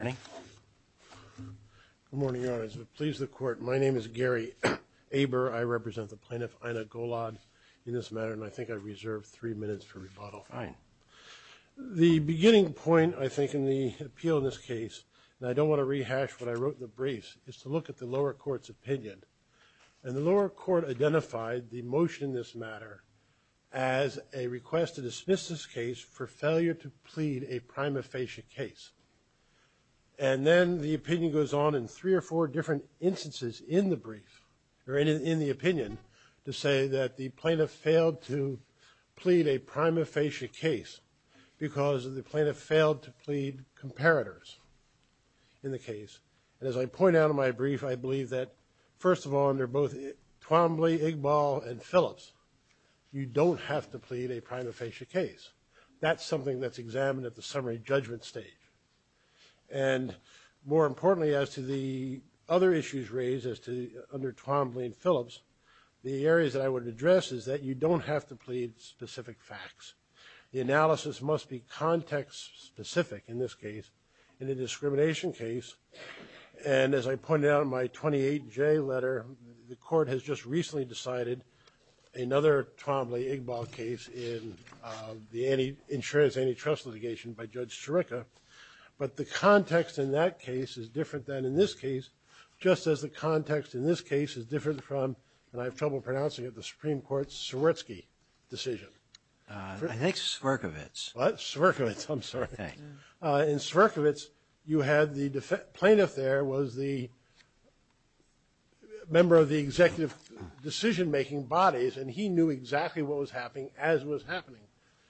Good morning, Your Honor. As it pleases the Court, my name is Gary Aber. I represent the Plaintiff, Ina Golod, in this matter, and I think I reserve three minutes for rebuttal. The beginning point, I think, in the appeal in this case, and I don't want to rehash what I wrote in the briefs, is to look at the lower court's opinion. And the lower court identified the motion in this matter as a request to dismiss this case for failure to plead a prima facie case. And then the opinion goes on in three or four different instances in the brief, or in the opinion, to say that the Plaintiff failed to plead a prima facie case because the Plaintiff failed to plead comparators in the case. And as I point out in my brief, I believe that, first of all, under both Twombly, Iqbal, and Phillips, you don't have to plead a prima facie case. That's something that's examined at the summary judgment stage. And more importantly, as to the other issues raised as to, under Twombly and Phillips, the areas that I would address is that you don't have to plead specific facts. The analysis must be context-specific, in this case, in a discrimination case. And as I pointed out in my 28J letter, the Court has just recently decided another Twombly-Iqbal case in the insurance antitrust litigation by Judge Ciarica. But the context in that case is different than in this case, just as the context in this case is different from, and I have trouble pronouncing it, the Supreme Court's Swierczki decision. I think it's Swierczkiewicz. Swierczkiewicz, I'm sorry. In Swierczkiewicz, you had the Plaintiff there was the member of the executive decision-making bodies, and he knew exactly what was happening as was happening.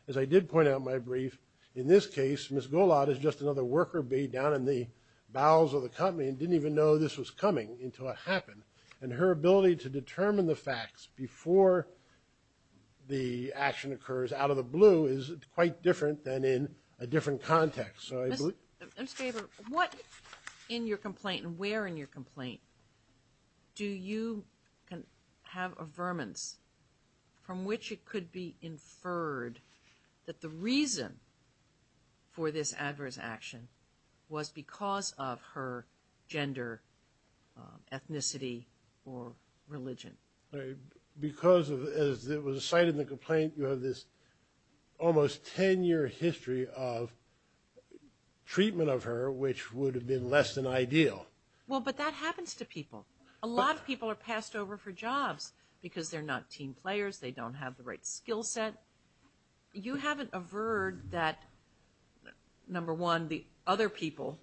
As I did point out in my brief, in this case, Ms. Golad is just another worker bee down in the bowels of the company and didn't even know this was coming until it happened. And her ability to determine the facts before the action occurs, out of the blue, is quite different than in a different context. Ms. Gaber, what in your complaint, and where in your complaint, do you have a vermince from which it could be inferred that the reason for this adverse action was because of her gender, ethnicity, or religion? Because, as it was cited in the complaint, you have this almost 10-year history of treatment of her which would have been less than ideal. Well, but that happens to people. A lot of people are passed over for jobs because they're not team players, they don't have the right skill set. You haven't averred that, number one, the other people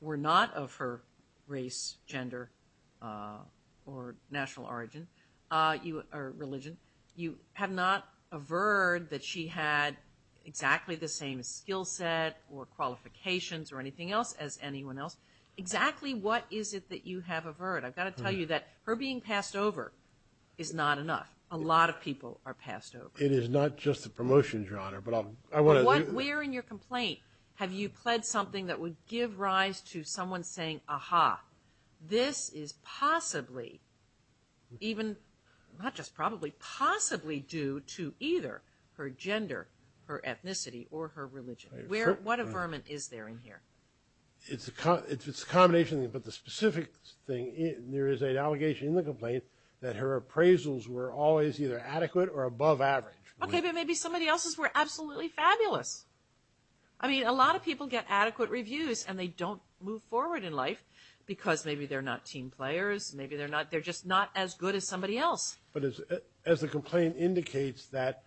were not of her race, gender, or national origin, or religion. You have not averred that she had exactly the same skill set or qualifications or anything else as anyone else. Exactly what is it that you have averred? I've got to tell you that her being passed over is not enough. A lot of people are passed over. It is not just the promotions, Your Honor, but I want to... Where in your complaint have you pled something that would give rise to someone saying, aha, this is possibly, even not just probably, possibly due to either her gender, her ethnicity, or her religion? What averment is there in here? It's a combination, but the specific thing, there is an allegation in the complaint that her appraisals were always either adequate or above average. Okay, but maybe somebody else's were absolutely fabulous. I mean, a lot of people get adequate reviews and they don't move forward in life because maybe they're not team players, maybe they're just not as good as somebody else. But as the complaint indicates that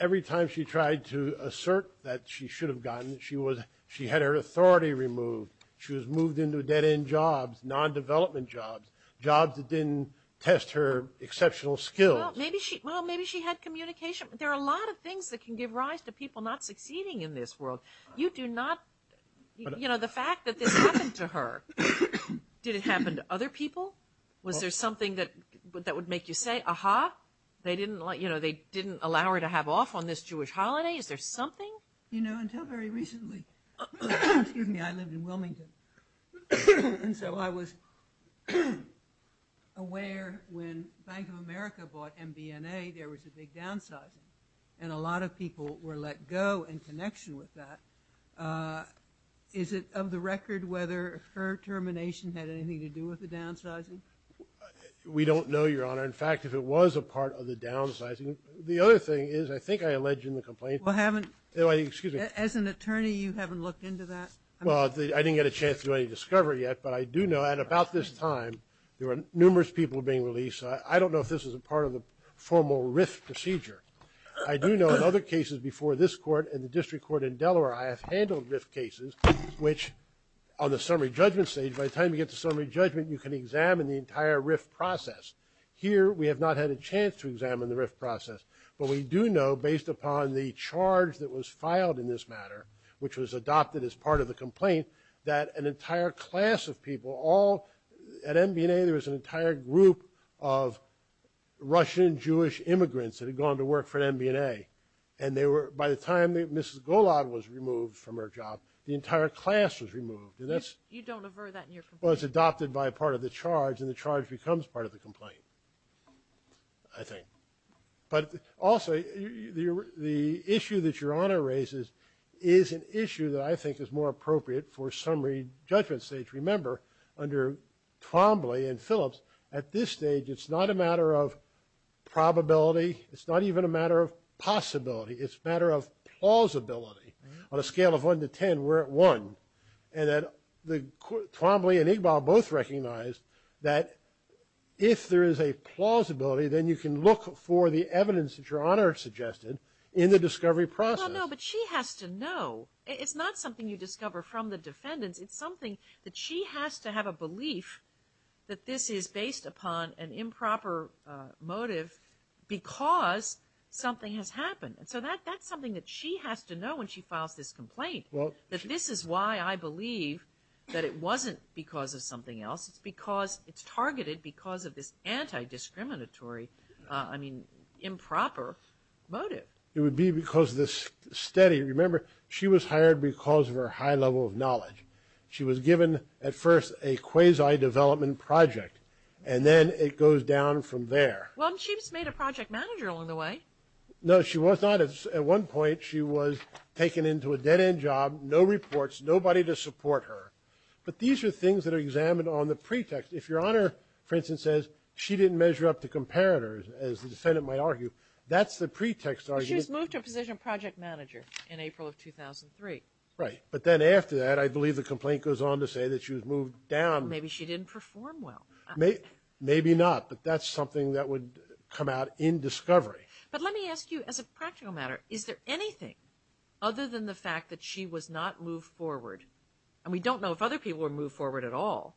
every time she tried to assert that she should have gotten, she had her authority removed. She was moved into dead-end jobs, non-development jobs, jobs that didn't test her exceptional skills. Well, maybe she had communication. There are a lot of things that can give rise to people not succeeding in this world. You do not... You know, the fact that this happened to her, did it happen to other people? Was there something that would make you say, aha, they didn't allow her to have off on this Jewish holiday? Is there something? You know, until very recently, excuse me, I lived in Wilmington. And so I was aware when Bank of America bought MBNA, there was a big downsizing. And a lot of people were let go in connection with that. Is it of the record whether her termination had anything to do with the downsizing? We don't know, Your Honor. In fact, if it was a part of the downsizing... The other thing is, I think I alleged in the complaint... Well, haven't... Oh, excuse me. As an attorney, you haven't looked into that? Well, I didn't get a chance to do any discovery yet, but I do know at about this time, there were numerous people being released. I don't know if this is a part of the formal RIF procedure. I do know in other cases before this court and the district court in Delaware, I have handled RIF cases, which on the summary judgment stage, by the time you get to summary judgment, you can examine the entire RIF process. Here, we have not had a chance to examine the RIF process. But we do know based upon the charge that was filed in this matter, which was adopted as part of the complaint, that an entire class of people all... At MBNA, there was an entire group of Russian Jewish immigrants that had gone to work for MBNA. And they were, by the time that Mrs. Golag was removed from her job, the entire class was removed. And that's... You don't aver that in your complaint? Was adopted by part of the charge, and the charge becomes part of the complaint, I think. But also, the issue that Your Honor raises is an issue that I think is more appropriate for summary judgment stage. Remember, under Twombly and Phillips, at this stage, it's not a matter of probability. It's not even a matter of possibility. It's a matter of plausibility. On a scale of 1 to 10, we're at 1. And then Twombly and Igbal both recognized that if there is a plausibility, then you can look for the evidence that Your Honor suggested in the discovery process. Well, no, but she has to know. It's not something you discover from the defendants. It's something that she has to have a belief that this is based upon an improper motive because something has happened. And so that's something that she has to know when she files this complaint, that this is why I believe that it wasn't because of something else. It's because it's targeted because of this anti-discriminatory, I mean, improper motive. It would be because of this study. Remember, she was hired because of her high level of knowledge. She was given, at first, a quasi-development project, and then it goes down from there. Well, she just made a project manager along the way. No, she was not. At one point, she was taken into a dead-end job, no reports, nobody to support her. But these are things that are examined on the pretext. If Your Honor, for instance, says she didn't measure up to comparators, as the defendant might argue, that's the pretext argument. She was moved to a position of project manager in April of 2003. Right. But then after that, I believe the complaint goes on to say that she was moved down. Maybe she didn't perform well. Maybe not, but that's something that would come out in discovery. But let me ask you, as a practical matter, is there anything other than the fact that she was not moved forward, and we don't know if other people were moved forward at all,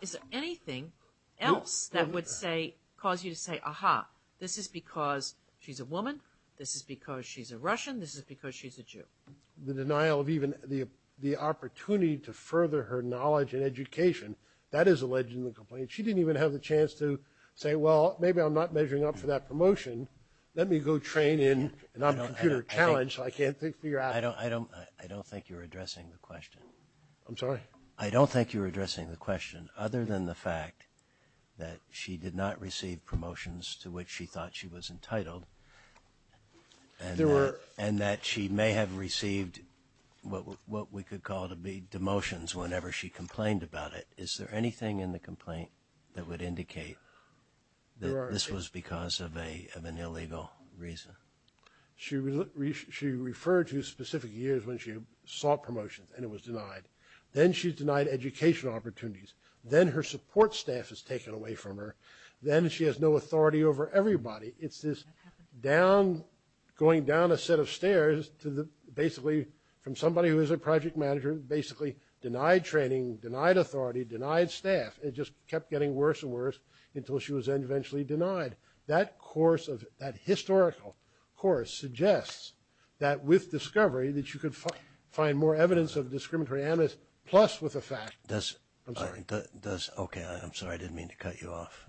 is there anything else that would say, cause you to say, aha, this is because she's a woman, this is because she's a Russian, this is because she's a Jew? The denial of even the opportunity to further her knowledge and education, that is alleged in the complaint. She didn't even have the chance to say, well, maybe I'm not measuring up for that promotion. Let me go train in an on-computer challenge so I can't figure out. I don't think you're addressing the question. I'm sorry? I don't think you're addressing the question, other than the fact that she did not receive promotions to which she thought she was entitled. There were. And that she may have received what we could call to be demotions whenever she complained about it. Is there anything in the complaint that would indicate that this was because of an illegal reason? She referred to specific years when she sought promotions and it was denied. Then she's denied educational opportunities. Then her support staff is taken away from her. Then she has no authority over everybody. It's this down, going down a set of stairs to basically, from somebody who is a project manager, basically denied training, denied authority, denied staff. It just kept getting worse and worse until she was eventually denied. That course of, that historical course suggests that with discovery that you could find more evidence of discriminatory animus, plus with the fact. Does, I'm sorry, does, okay, I'm sorry. I didn't mean to cut you off.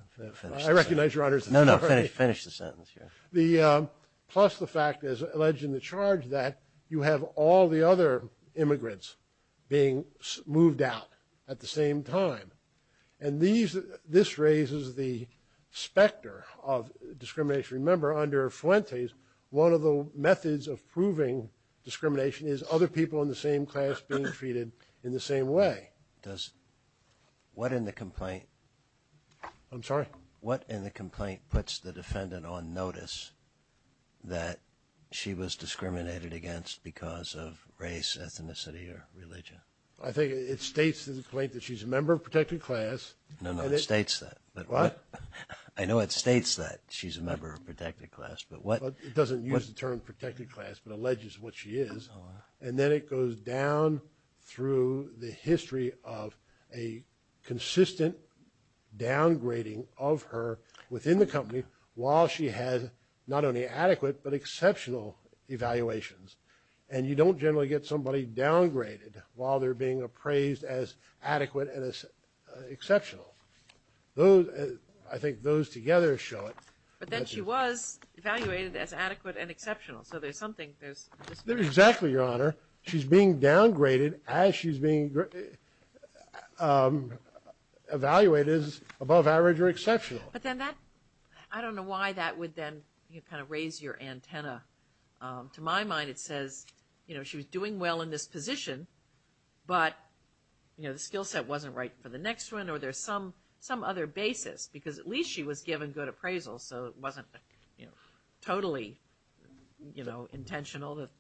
I recognize your Honor's authority. No, no, finish the sentence here. The, plus the fact, as alleged in the charge, that you have all the other immigrants being moved out at the same time. And these, this raises the specter of discrimination. Remember, under Fuentes, one of the methods of proving discrimination is other people in the same class being treated in the same way. Does, what in the complaint? I'm sorry? What in the complaint puts the defendant on notice that she was discriminated against because of race, ethnicity, or religion? I think it states in the complaint that she's a member of protected class. No, no, it states that. But what? I know it states that she's a member of protected class, but what? It doesn't use the term protected class, but alleges what she is. And then it goes down through the history of a consistent downgrading of her within the company while she has not only adequate but exceptional evaluations. And you don't generally get somebody downgraded while they're being appraised as adequate and as exceptional. Those, I think those together show it. But then she was evaluated as adequate and exceptional. So there's something, there's discrimination. Exactly, Your Honor. She's being downgraded as she's being evaluated as above average or exceptional. But then that, I don't know why that would then kind of raise your antenna. To my mind it says, you know, she was doing well in this position, but, you know, the skill set wasn't right for the next one, or there's some other basis. Because at least she was given good appraisal, so it wasn't, you know, totally, you know,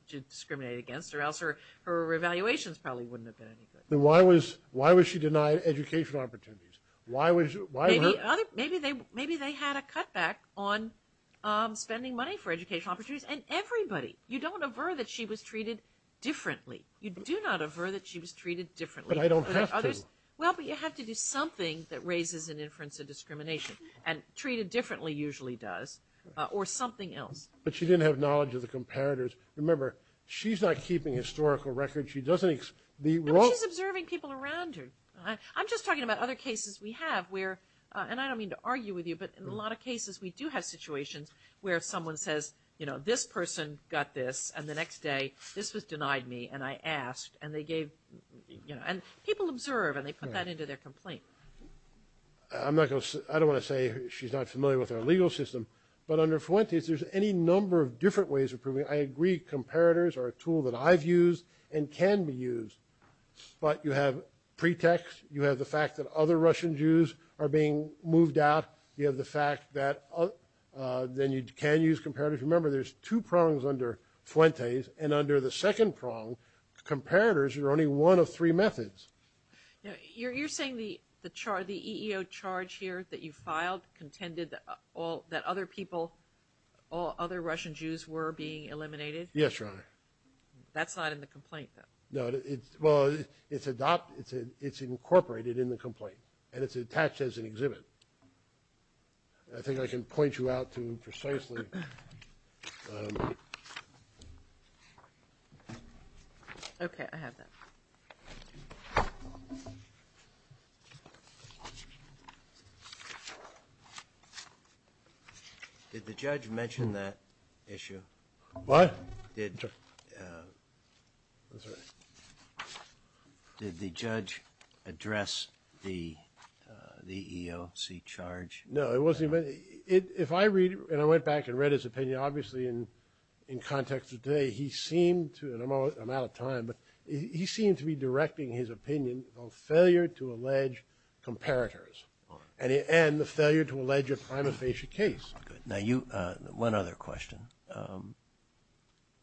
discriminated against, or else her evaluations probably wouldn't have been any good. Then why was she denied educational opportunities? Why was, why were? Maybe they had a cutback on spending money for educational opportunities. And everybody, you don't aver that she was treated differently. You do not aver that she was treated differently. But I don't have to. Well, but you have to do something that raises an inference of discrimination. And treated differently usually does, or something else. But she didn't have knowledge of the comparators. Remember, she's not keeping historical records. She doesn't. No, she's observing people around her. I'm just talking about other cases we have where, and I don't mean to argue with you, but in a lot of cases we do have situations where someone says, you know, this person got this, and the next day this was denied me, and I asked, and they gave, you know. And people observe, and they put that into their complaint. I'm not going to, I don't want to say she's not familiar with our legal system, but under Fuentes there's any number of different ways of proving. I agree comparators are a tool that I've used and can be used. But you have pretext. You have the fact that other Russian Jews are being moved out. You have the fact that then you can use comparators. Remember, there's two prongs under Fuentes. And under the second prong, comparators are only one of three methods. You're saying the charge, the EEO charge here that you filed contended that all, that other people, all other Russian Jews were being eliminated? Yes, Your Honor. That's not in the complaint, though. No, it's, well, it's adopted, it's incorporated in the complaint, and it's attached as an exhibit. I think I can point you out to precisely. Okay, I have that. Did the judge mention that issue? What? Did the judge address the EEOC charge? No, it wasn't even, if I read, and I went back and read his opinion, obviously in context of today, he seemed to, and I'm out of time, but he seemed to be directing his opinion on failure to allege comparators, and the failure to allege a prima facie case. Now, you, one other question.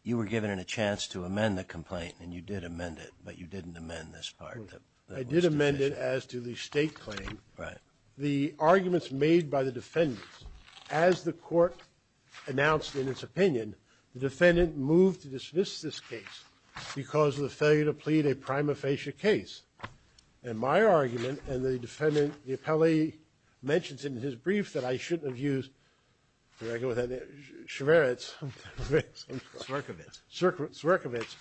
You were given a chance to amend the complaint, and you did amend it, but you didn't amend this part. I did amend it as to the state claim. Right. The arguments made by the defendants, as the court announced in its opinion, the defendant moved to dismiss this case because of the failure to plead a prima facie case. And my argument, and the defendant, the appellee mentions it in his brief that I shouldn't have used, where did I go with that name? Shveritz. Swerkovitz. Swerkovitz.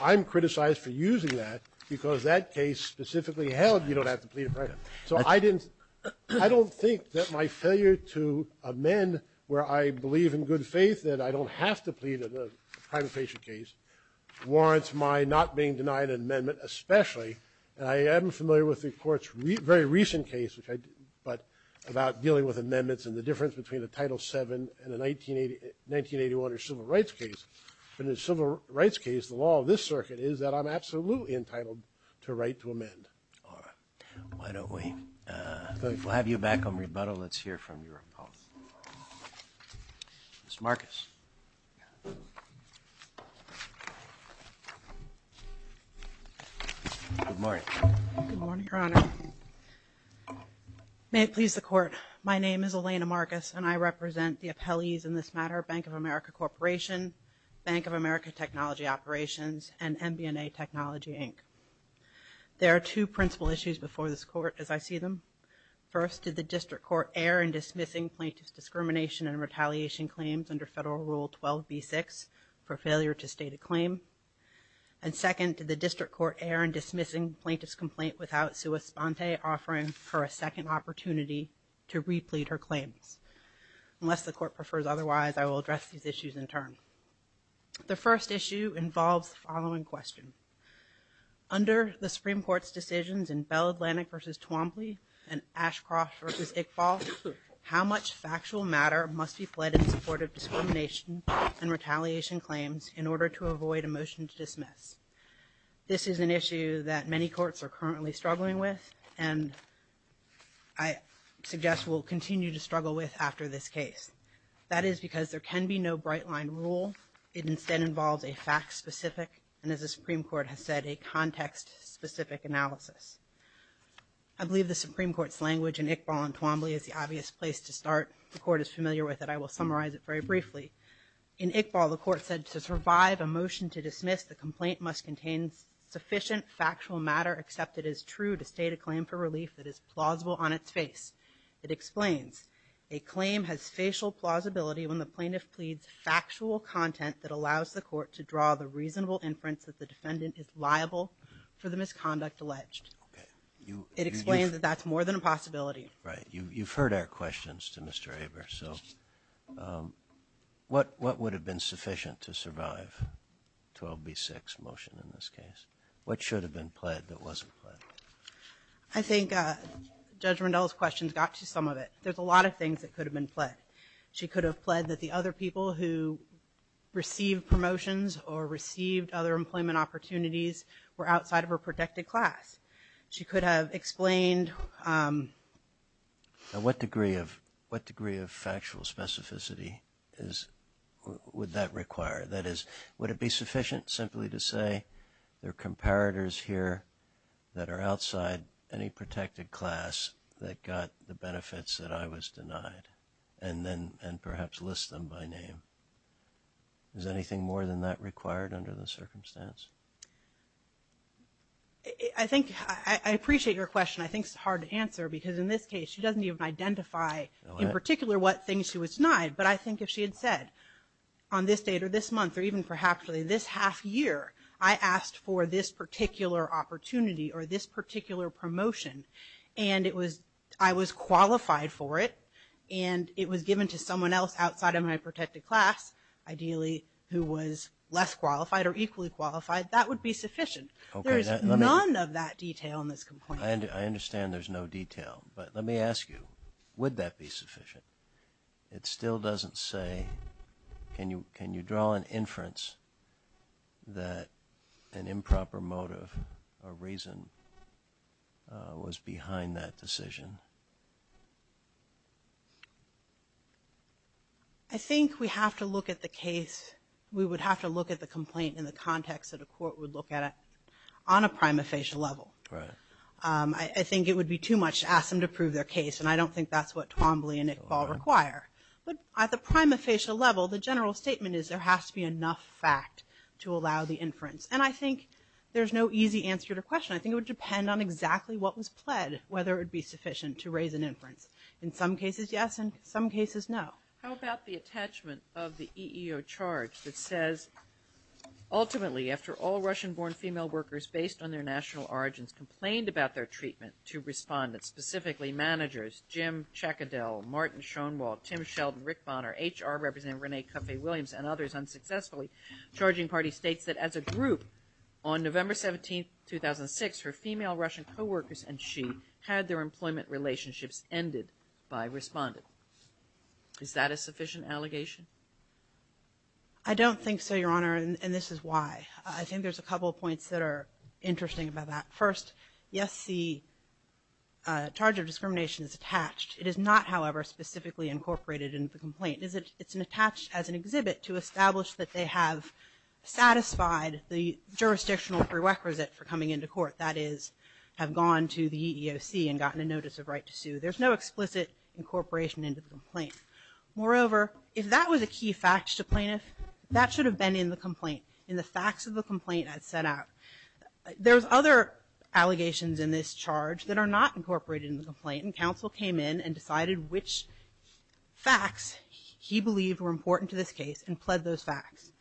I'm criticized for using that because that case specifically held you don't have to plead a prima. So I didn't, I don't think that my failure to amend where I believe in good faith that I don't have to plead a prima facie case warrants my not being denied an amendment, especially, and I am familiar with the court's very recent case, which I, but about dealing with amendments and the difference between the Title VII and the 1980, 1981, or civil rights case. But in the civil rights case, the law of this circuit is that I'm absolutely entitled to a right to amend. All right. Why don't we, we'll have you back on rebuttal. Let's hear from your opponent. Mr. Marcus. Good morning. Good morning, Your Honor. May it please the court. My name is Elena Marcus, and I represent the appellees in this matter, Bank of America Corporation, Bank of America Technology Operations, and MBNA Technology, Inc. There are two principal issues before this court as I see them. First, did the district court err in dismissing plaintiff's discrimination and retaliation claims under Federal Rule 12b-6 for failure to state a claim? And second, did the district court err in dismissing plaintiff's complaint without Sua Sponte offering for a second opportunity to replete her claims? Unless the court prefers otherwise, I will address these issues in turn. The first issue involves the following question. Under the Supreme Court's decisions in Bell Atlantic v. Twombly and Ashcroft v. Iqbal, how much factual matter must be pled in support of discrimination and retaliation claims in order to avoid a motion to dismiss? This is an issue that many courts are currently struggling with and I suggest will continue to struggle with after this case. That is because there can be no bright-line rule. It instead involves a fact-specific and, as the Supreme Court has said, a context-specific analysis. I believe the Supreme Court's language in Iqbal and Twombly is the obvious place to start. The court is familiar with it. I will summarize it very briefly. In Iqbal, the court said to survive a motion to dismiss, the complaint must contain sufficient factual matter except it is true to state a claim for relief that is plausible on its face. It explains a claim has facial plausibility when the plaintiff pleads factual content that allows the court to draw the reasonable inference that the defendant is liable for the misconduct alleged. It explains that that's more than a possibility. Right. You've heard our questions to Mr. Aber. So what would have been sufficient to survive 12B6 motion in this case? What should have been pled that wasn't pled? I think Judge Rendell's questions got to some of it. There's a lot of things that could have been pled. She could have pled that the other people who received promotions or received other employment opportunities were outside of her protected class. She could have explained. Now, what degree of factual specificity would that require? That is, would it be sufficient simply to say there are comparators here that are outside any protected class that got the benefits that I was denied and then perhaps list them by name? Is anything more than that required under the circumstance? I think I appreciate your question. I think it's hard to answer because in this case, she doesn't even identify in particular what things she was denied. But I think if she had said on this date or this month or even perhaps this half year, I asked for this particular opportunity or this particular promotion and it was I was qualified for it and it was given to someone else outside of my protected class, ideally who was less qualified or equally qualified, that would be sufficient. There's none of that detail in this complaint. I understand there's no detail. But let me ask you, would that be sufficient? It still doesn't say, can you draw an inference that an improper motive or reason was behind that decision? I think we have to look at the case, we would have to look at the complaint in the context that a court would look at it on a prima facie level. I think it would be too much to ask them to prove their case. And I don't think that's what Twombly and Iqbal require. But at the prima facie level, the general statement is there has to be enough fact to allow the inference. And I think there's no easy answer to the question. I think it would depend on exactly what was pled, whether it would be sufficient to raise an inference. In some cases, yes. In some cases, no. How about the attachment of the EEO charge that says, ultimately, after all Russian born female workers based on their national origins complained about their treatment to respondents, specifically managers, Jim Checkadel, Martin Schoenwald, Tim Sheldon, Rick Bonner, HR representative Renee Cuffey-Williams and others unsuccessfully, charging party states that as a group on November 17, 2006, her female Russian co-workers and she had their employment relationships ended by a respondent. Is that a sufficient allegation? I don't think so, Your Honor. And this is why. I think there's a couple of points that are interesting about that. First, yes, the charge of discrimination is attached. It is not, however, specifically incorporated in the complaint. It's attached as an exhibit to establish that they have satisfied the jurisdictional prerequisite for coming into court, that is, have gone to the EEOC and gotten a notice of right to sue. There's no explicit incorporation into the complaint. Moreover, if that was a key fact to plaintiff, that should have been in the complaint, in the facts of the complaint as set out. There's other allegations in this charge that are not incorporated in the complaint, and counsel came in and decided which facts he believed were important to this case and pled those facts.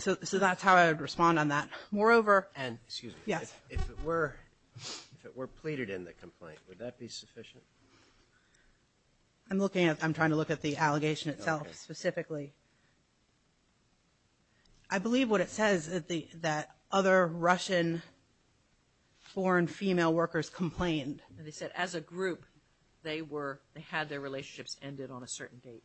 So that's how I would respond on that. Moreover, and excuse me, yes, if it were, if it were pleaded in the complaint, would that be sufficient? I'm looking at, I'm trying to look at the allegation itself specifically. I believe what it says that the, that other Russian foreign female workers complained. They said as a group, they were, they had their relationships ended on a certain date.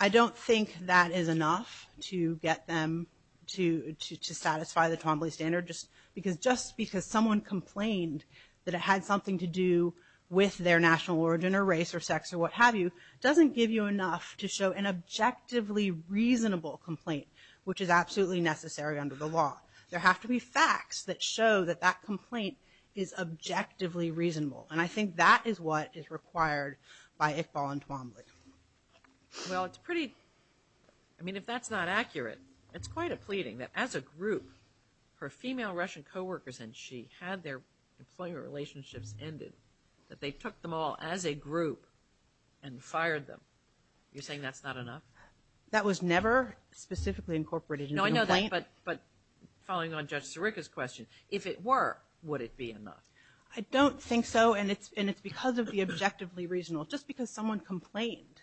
I don't think that is enough to get them to, to, to satisfy the Twombly standard, just because, just because someone complained that it had something to do with their national origin, or race, or sex, or what have you, doesn't give you enough to show that you can show an objectively reasonable complaint, which is absolutely necessary under the law. There have to be facts that show that that complaint is objectively reasonable. And I think that is what is required by Iqbal and Twombly. Well, it's pretty, I mean, if that's not accurate, it's quite a pleading that as a group, her female Russian co-workers and she had their employment relationships ended, that they took them all as a group and fired them. You're saying that's not enough? That was never specifically incorporated in the complaint. No, I know that, but, but following on Judge Sirica's question, if it were, would it be enough? I don't think so, and it's, and it's because of the objectively reasonable, just because someone complained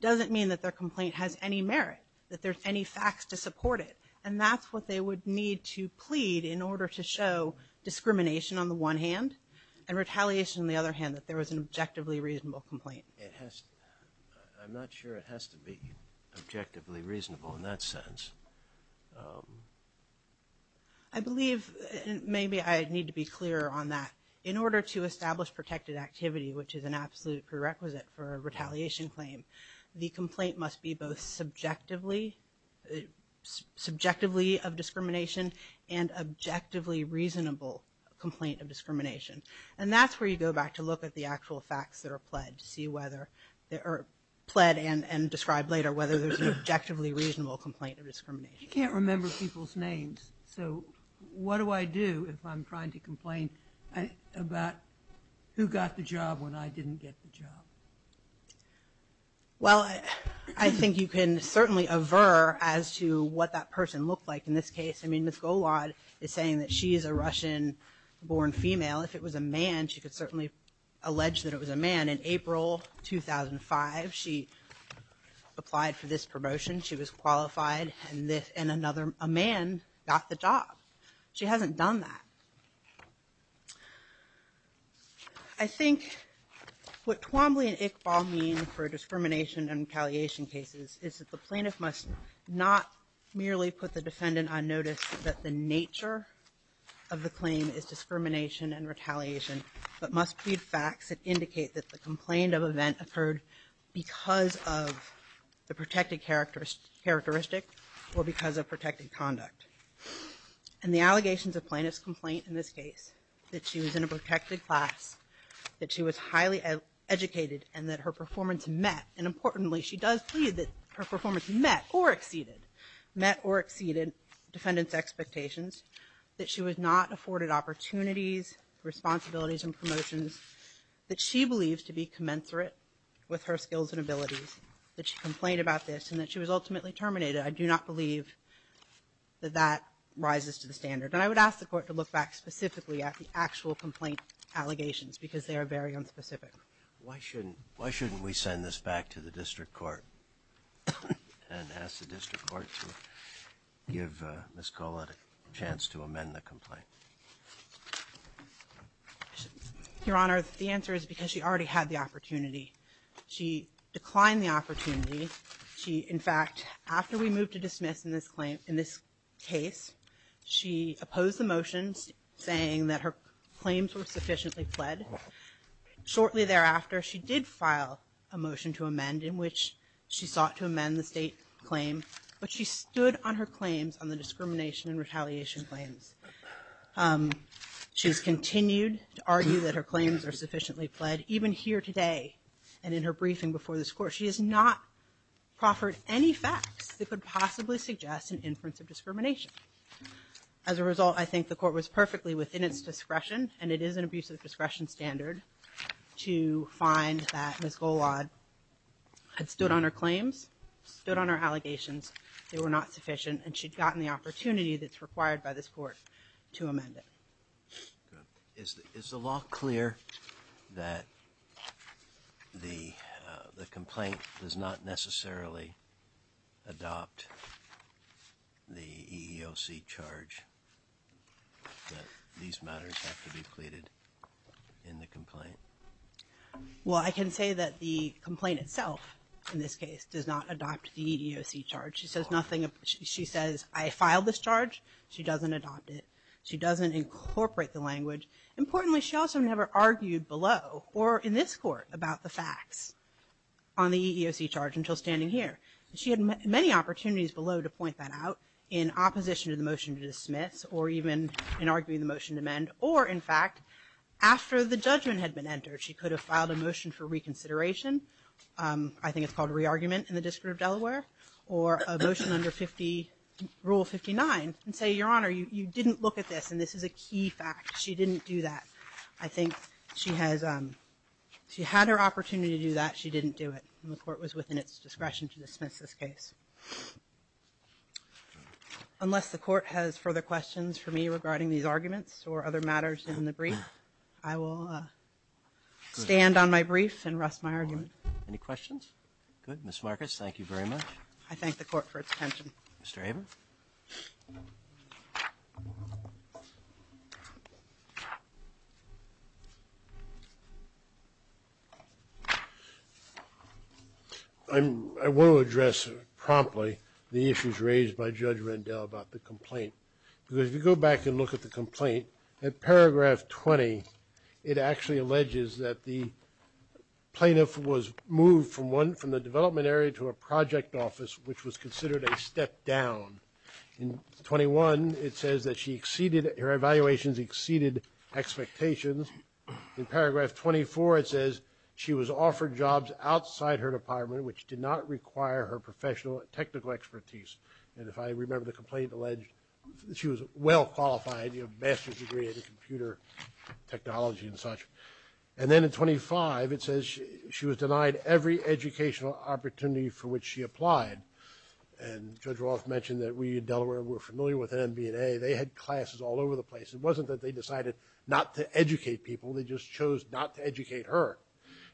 doesn't mean that their complaint has any merit, that there's any facts to support it. And that's what they would need to plead in order to show discrimination on the one hand, and retaliation on the other hand, that there was an objectively reasonable complaint. It has, I'm not sure it has to be objectively reasonable in that sense. I believe, maybe I need to be clearer on that. In order to establish protected activity, which is an absolute prerequisite for a retaliation claim, the complaint must be both subjectively, subjectively of discrimination and objectively reasonable complaint of discrimination. And that's where you go back to look at the actual facts that are pledged to see whether they are pledged and described later whether there's an objectively reasonable complaint of discrimination. You can't remember people's names, so what do I do if I'm trying to complain about who got the job when I didn't get the job? Well, I think you can certainly aver as to what that person looked like in this case. Ms. Golad is saying that she is a Russian-born female. If it was a man, she could certainly allege that it was a man. In April 2005, she applied for this promotion. She was qualified, and a man got the job. She hasn't done that. I think what Twombly and Iqbal mean for discrimination and retaliation cases is that the nature of the claim is discrimination and retaliation, but must plead facts that indicate that the complaint of event occurred because of the protected characteristic or because of protected conduct. And the allegations of plaintiff's complaint in this case, that she was in a protected class, that she was highly educated, and that her performance met. And importantly, she does plead that her performance met or exceeded, met or exceeded defendant's expectations, that she was not afforded opportunities, responsibilities, and promotions that she believes to be commensurate with her skills and abilities, that she complained about this, and that she was ultimately terminated. I do not believe that that rises to the standard. And I would ask the Court to look back specifically at the actual complaint allegations, because they are very unspecific. Why shouldn't, why shouldn't we send this back to the District Court and ask the District Court to give Ms. Collett a chance to amend the complaint? Your Honor, the answer is because she already had the opportunity. She declined the opportunity. She, in fact, after we moved to dismiss in this claim, in this case, she opposed the claims were sufficiently pled. Shortly thereafter, she did file a motion to amend in which she sought to amend the state claim. But she stood on her claims on the discrimination and retaliation claims. She's continued to argue that her claims are sufficiently pled, even here today and in her briefing before this Court. She has not proffered any facts that could possibly suggest an inference of discrimination. As a result, I think the Court was perfectly within its discretion, and it is an abuse of discretion standard to find that Ms. Collett had stood on her claims, stood on her allegations. They were not sufficient, and she'd gotten the opportunity that's required by this Court to amend it. Is the law clear that the complaint does not necessarily adopt the EEOC charge, that these matters have to be pleaded in the complaint? Well, I can say that the complaint itself, in this case, does not adopt the EEOC charge. She says nothing. She says, I filed this charge. She doesn't adopt it. She doesn't incorporate the language. Importantly, she also never argued below or in this Court about the facts on the EEOC charge until standing here. She had many opportunities below to point that out in opposition to the motion to dismiss or even in arguing the motion to amend or, in fact, after the judgment had been entered. She could have filed a motion for reconsideration. I think it's called a re-argument in the District of Delaware or a motion under Rule 59 and say, Your Honor, you didn't look at this, and this is a key fact. She didn't do that. I think she had her opportunity to do that. She didn't do it. The Court was within its discretion to dismiss this case. Unless the Court has further questions for me regarding these arguments or other matters in the brief, I will stand on my brief and rest my argument. Any questions? Good. Ms. Marcus, thank you very much. I thank the Court for its attention. Mr. Abrams? I want to address promptly the issues raised by Judge Rendell about the complaint. Because if you go back and look at the complaint, at paragraph 20, it actually alleges that the plaintiff was moved from the development area to a project office, which was considered a step down. In 21, it says that she exceeded – her evaluations exceeded expectations. In paragraph 24, it says she was offered jobs outside her department, which did not require her professional technical expertise. And if I remember, the complaint alleged she was well qualified, a master's degree in computer technology and such. And then in 25, it says she was denied every educational opportunity for which she applied. And Judge Roth mentioned that we in Delaware were familiar with NB&A. They had classes all over the place. It wasn't that they decided not to educate people. They just chose not to educate her.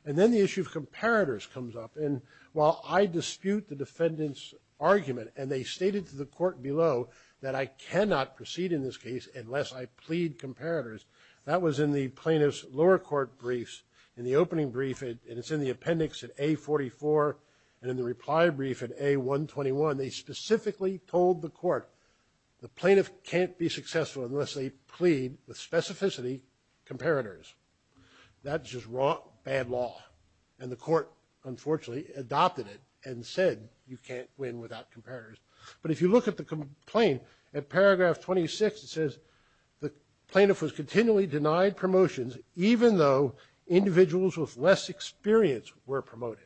And then the issue of comparators comes up. And while I dispute the defendant's argument – and they stated to the court below that I cannot proceed in this case unless I plead comparators – that was in the plaintiff's lower court briefs. In the opening brief – and it's in the appendix at A44 and in the reply brief at A121 – they specifically told the court the plaintiff can't be successful unless they plead with specificity comparators. That's just wrong, bad law. And the court, unfortunately, adopted it and said you can't win without comparators. But if you look at the complaint, at paragraph 26, it says the plaintiff was continually denied promotions even though individuals with less experience were promoted.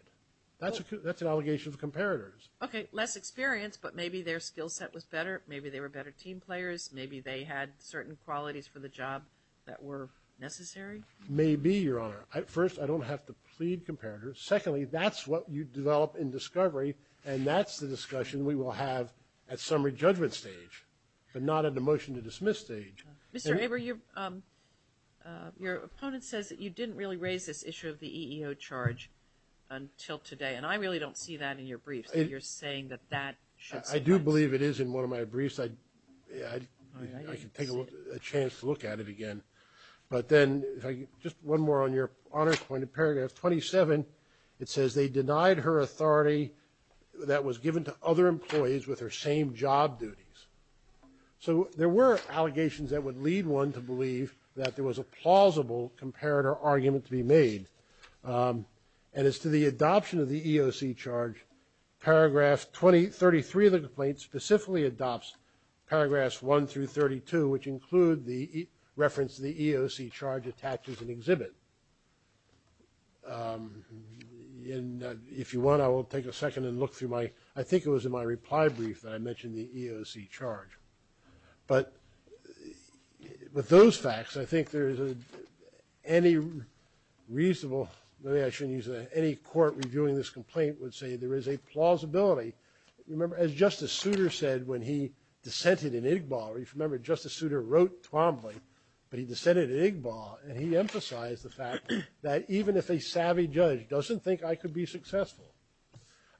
That's an allegation of comparators. MS. BENTON. Less experience, but maybe their skill set was better. Maybe they were better team players. Maybe they had certain qualities for the job that were necessary. CLEMENT. Maybe, Your Honor. First, I don't have to plead comparators. Secondly, that's what you develop in discovery, and that's the discussion we will have at summary judgment stage, but not at the motion to dismiss stage. MS. BENTON. Mr. Aver, your opponent says that you didn't really raise this issue of the EEO charge until today, and I really don't see that in your briefs, that you're saying that that should – MR. CLEMENT. I do believe it is in one of my briefs. I could take a chance to look at it again. But then, just one more on Your Honor's point. In paragraph 27, it says they denied her authority that was given to other employees with her same job duties. So there were allegations that would lead one to believe that there was a plausible comparator argument to be made, and as to the adoption of the EEO charge, paragraph 33 of the complaint specifically adopts paragraphs 1 through 32, which include the reference to the EEO charge attached as an exhibit. And if you want, I will take a second and look through my – I think it was in my reply brief that I mentioned the EEO charge. But with those facts, I think there is any reasonable – maybe I shouldn't use that any court reviewing this complaint would say there is a plausibility. Remember, as Justice Souter said when he dissented in Igbo, or if you remember, Justice Souter wrote Twombly, but he dissented in Igbo, and he emphasized the fact that even if a savvy judge doesn't think I could be successful,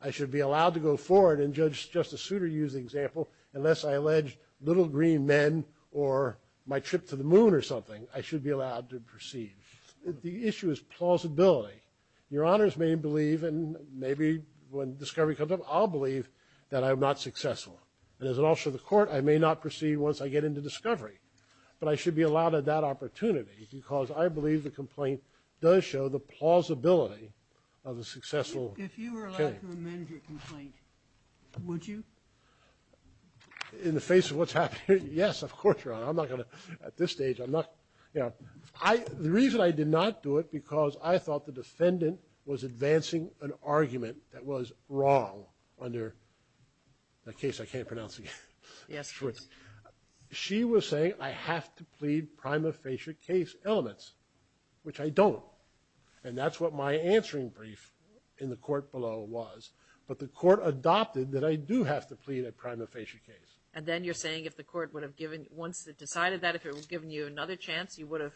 I should be allowed to go forward – and Judge – Justice Souter used the example – unless I allege little green men or my trip to the moon or something, I should be allowed to proceed. The issue is plausibility. Your Honors may believe, and maybe when discovery comes up, I'll believe that I'm not successful. And as an officer of the court, I may not proceed once I get into discovery. But I should be allowed at that opportunity because I believe the complaint does show the plausibility of a successful case. If you were allowed to amend your complaint, would you? In the face of what's happening – yes, of course, Your Honor. I'm not going to – at this stage, I'm not – you know, I – the reason I did not do it because I thought the defendant was advancing an argument that was wrong under the case I can't pronounce again. Yes, please. She was saying I have to plead prima facie case elements, which I don't. And that's what my answering brief in the court below was. But the court adopted that I do have to plead a prima facie case. And then you're saying if the court would have given – once it decided that, if it would have given you another chance, you would have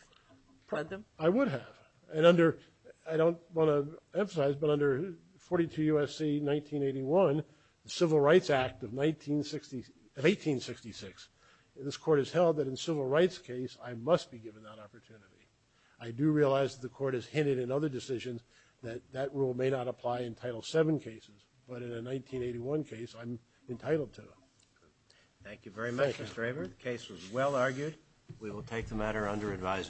pled them? I would have. And under – I don't want to emphasize, but under 42 U.S.C. 1981, the Civil Rights Act of 1960 – of 1866, this court has held that in a civil rights case, I must be given that opportunity. I do realize that the court has hinted in other decisions that that rule may not apply in Title VII cases. But in a 1981 case, I'm entitled to it. Thank you very much, Mr. Draper. The case was well argued. We will take the matter under advisement.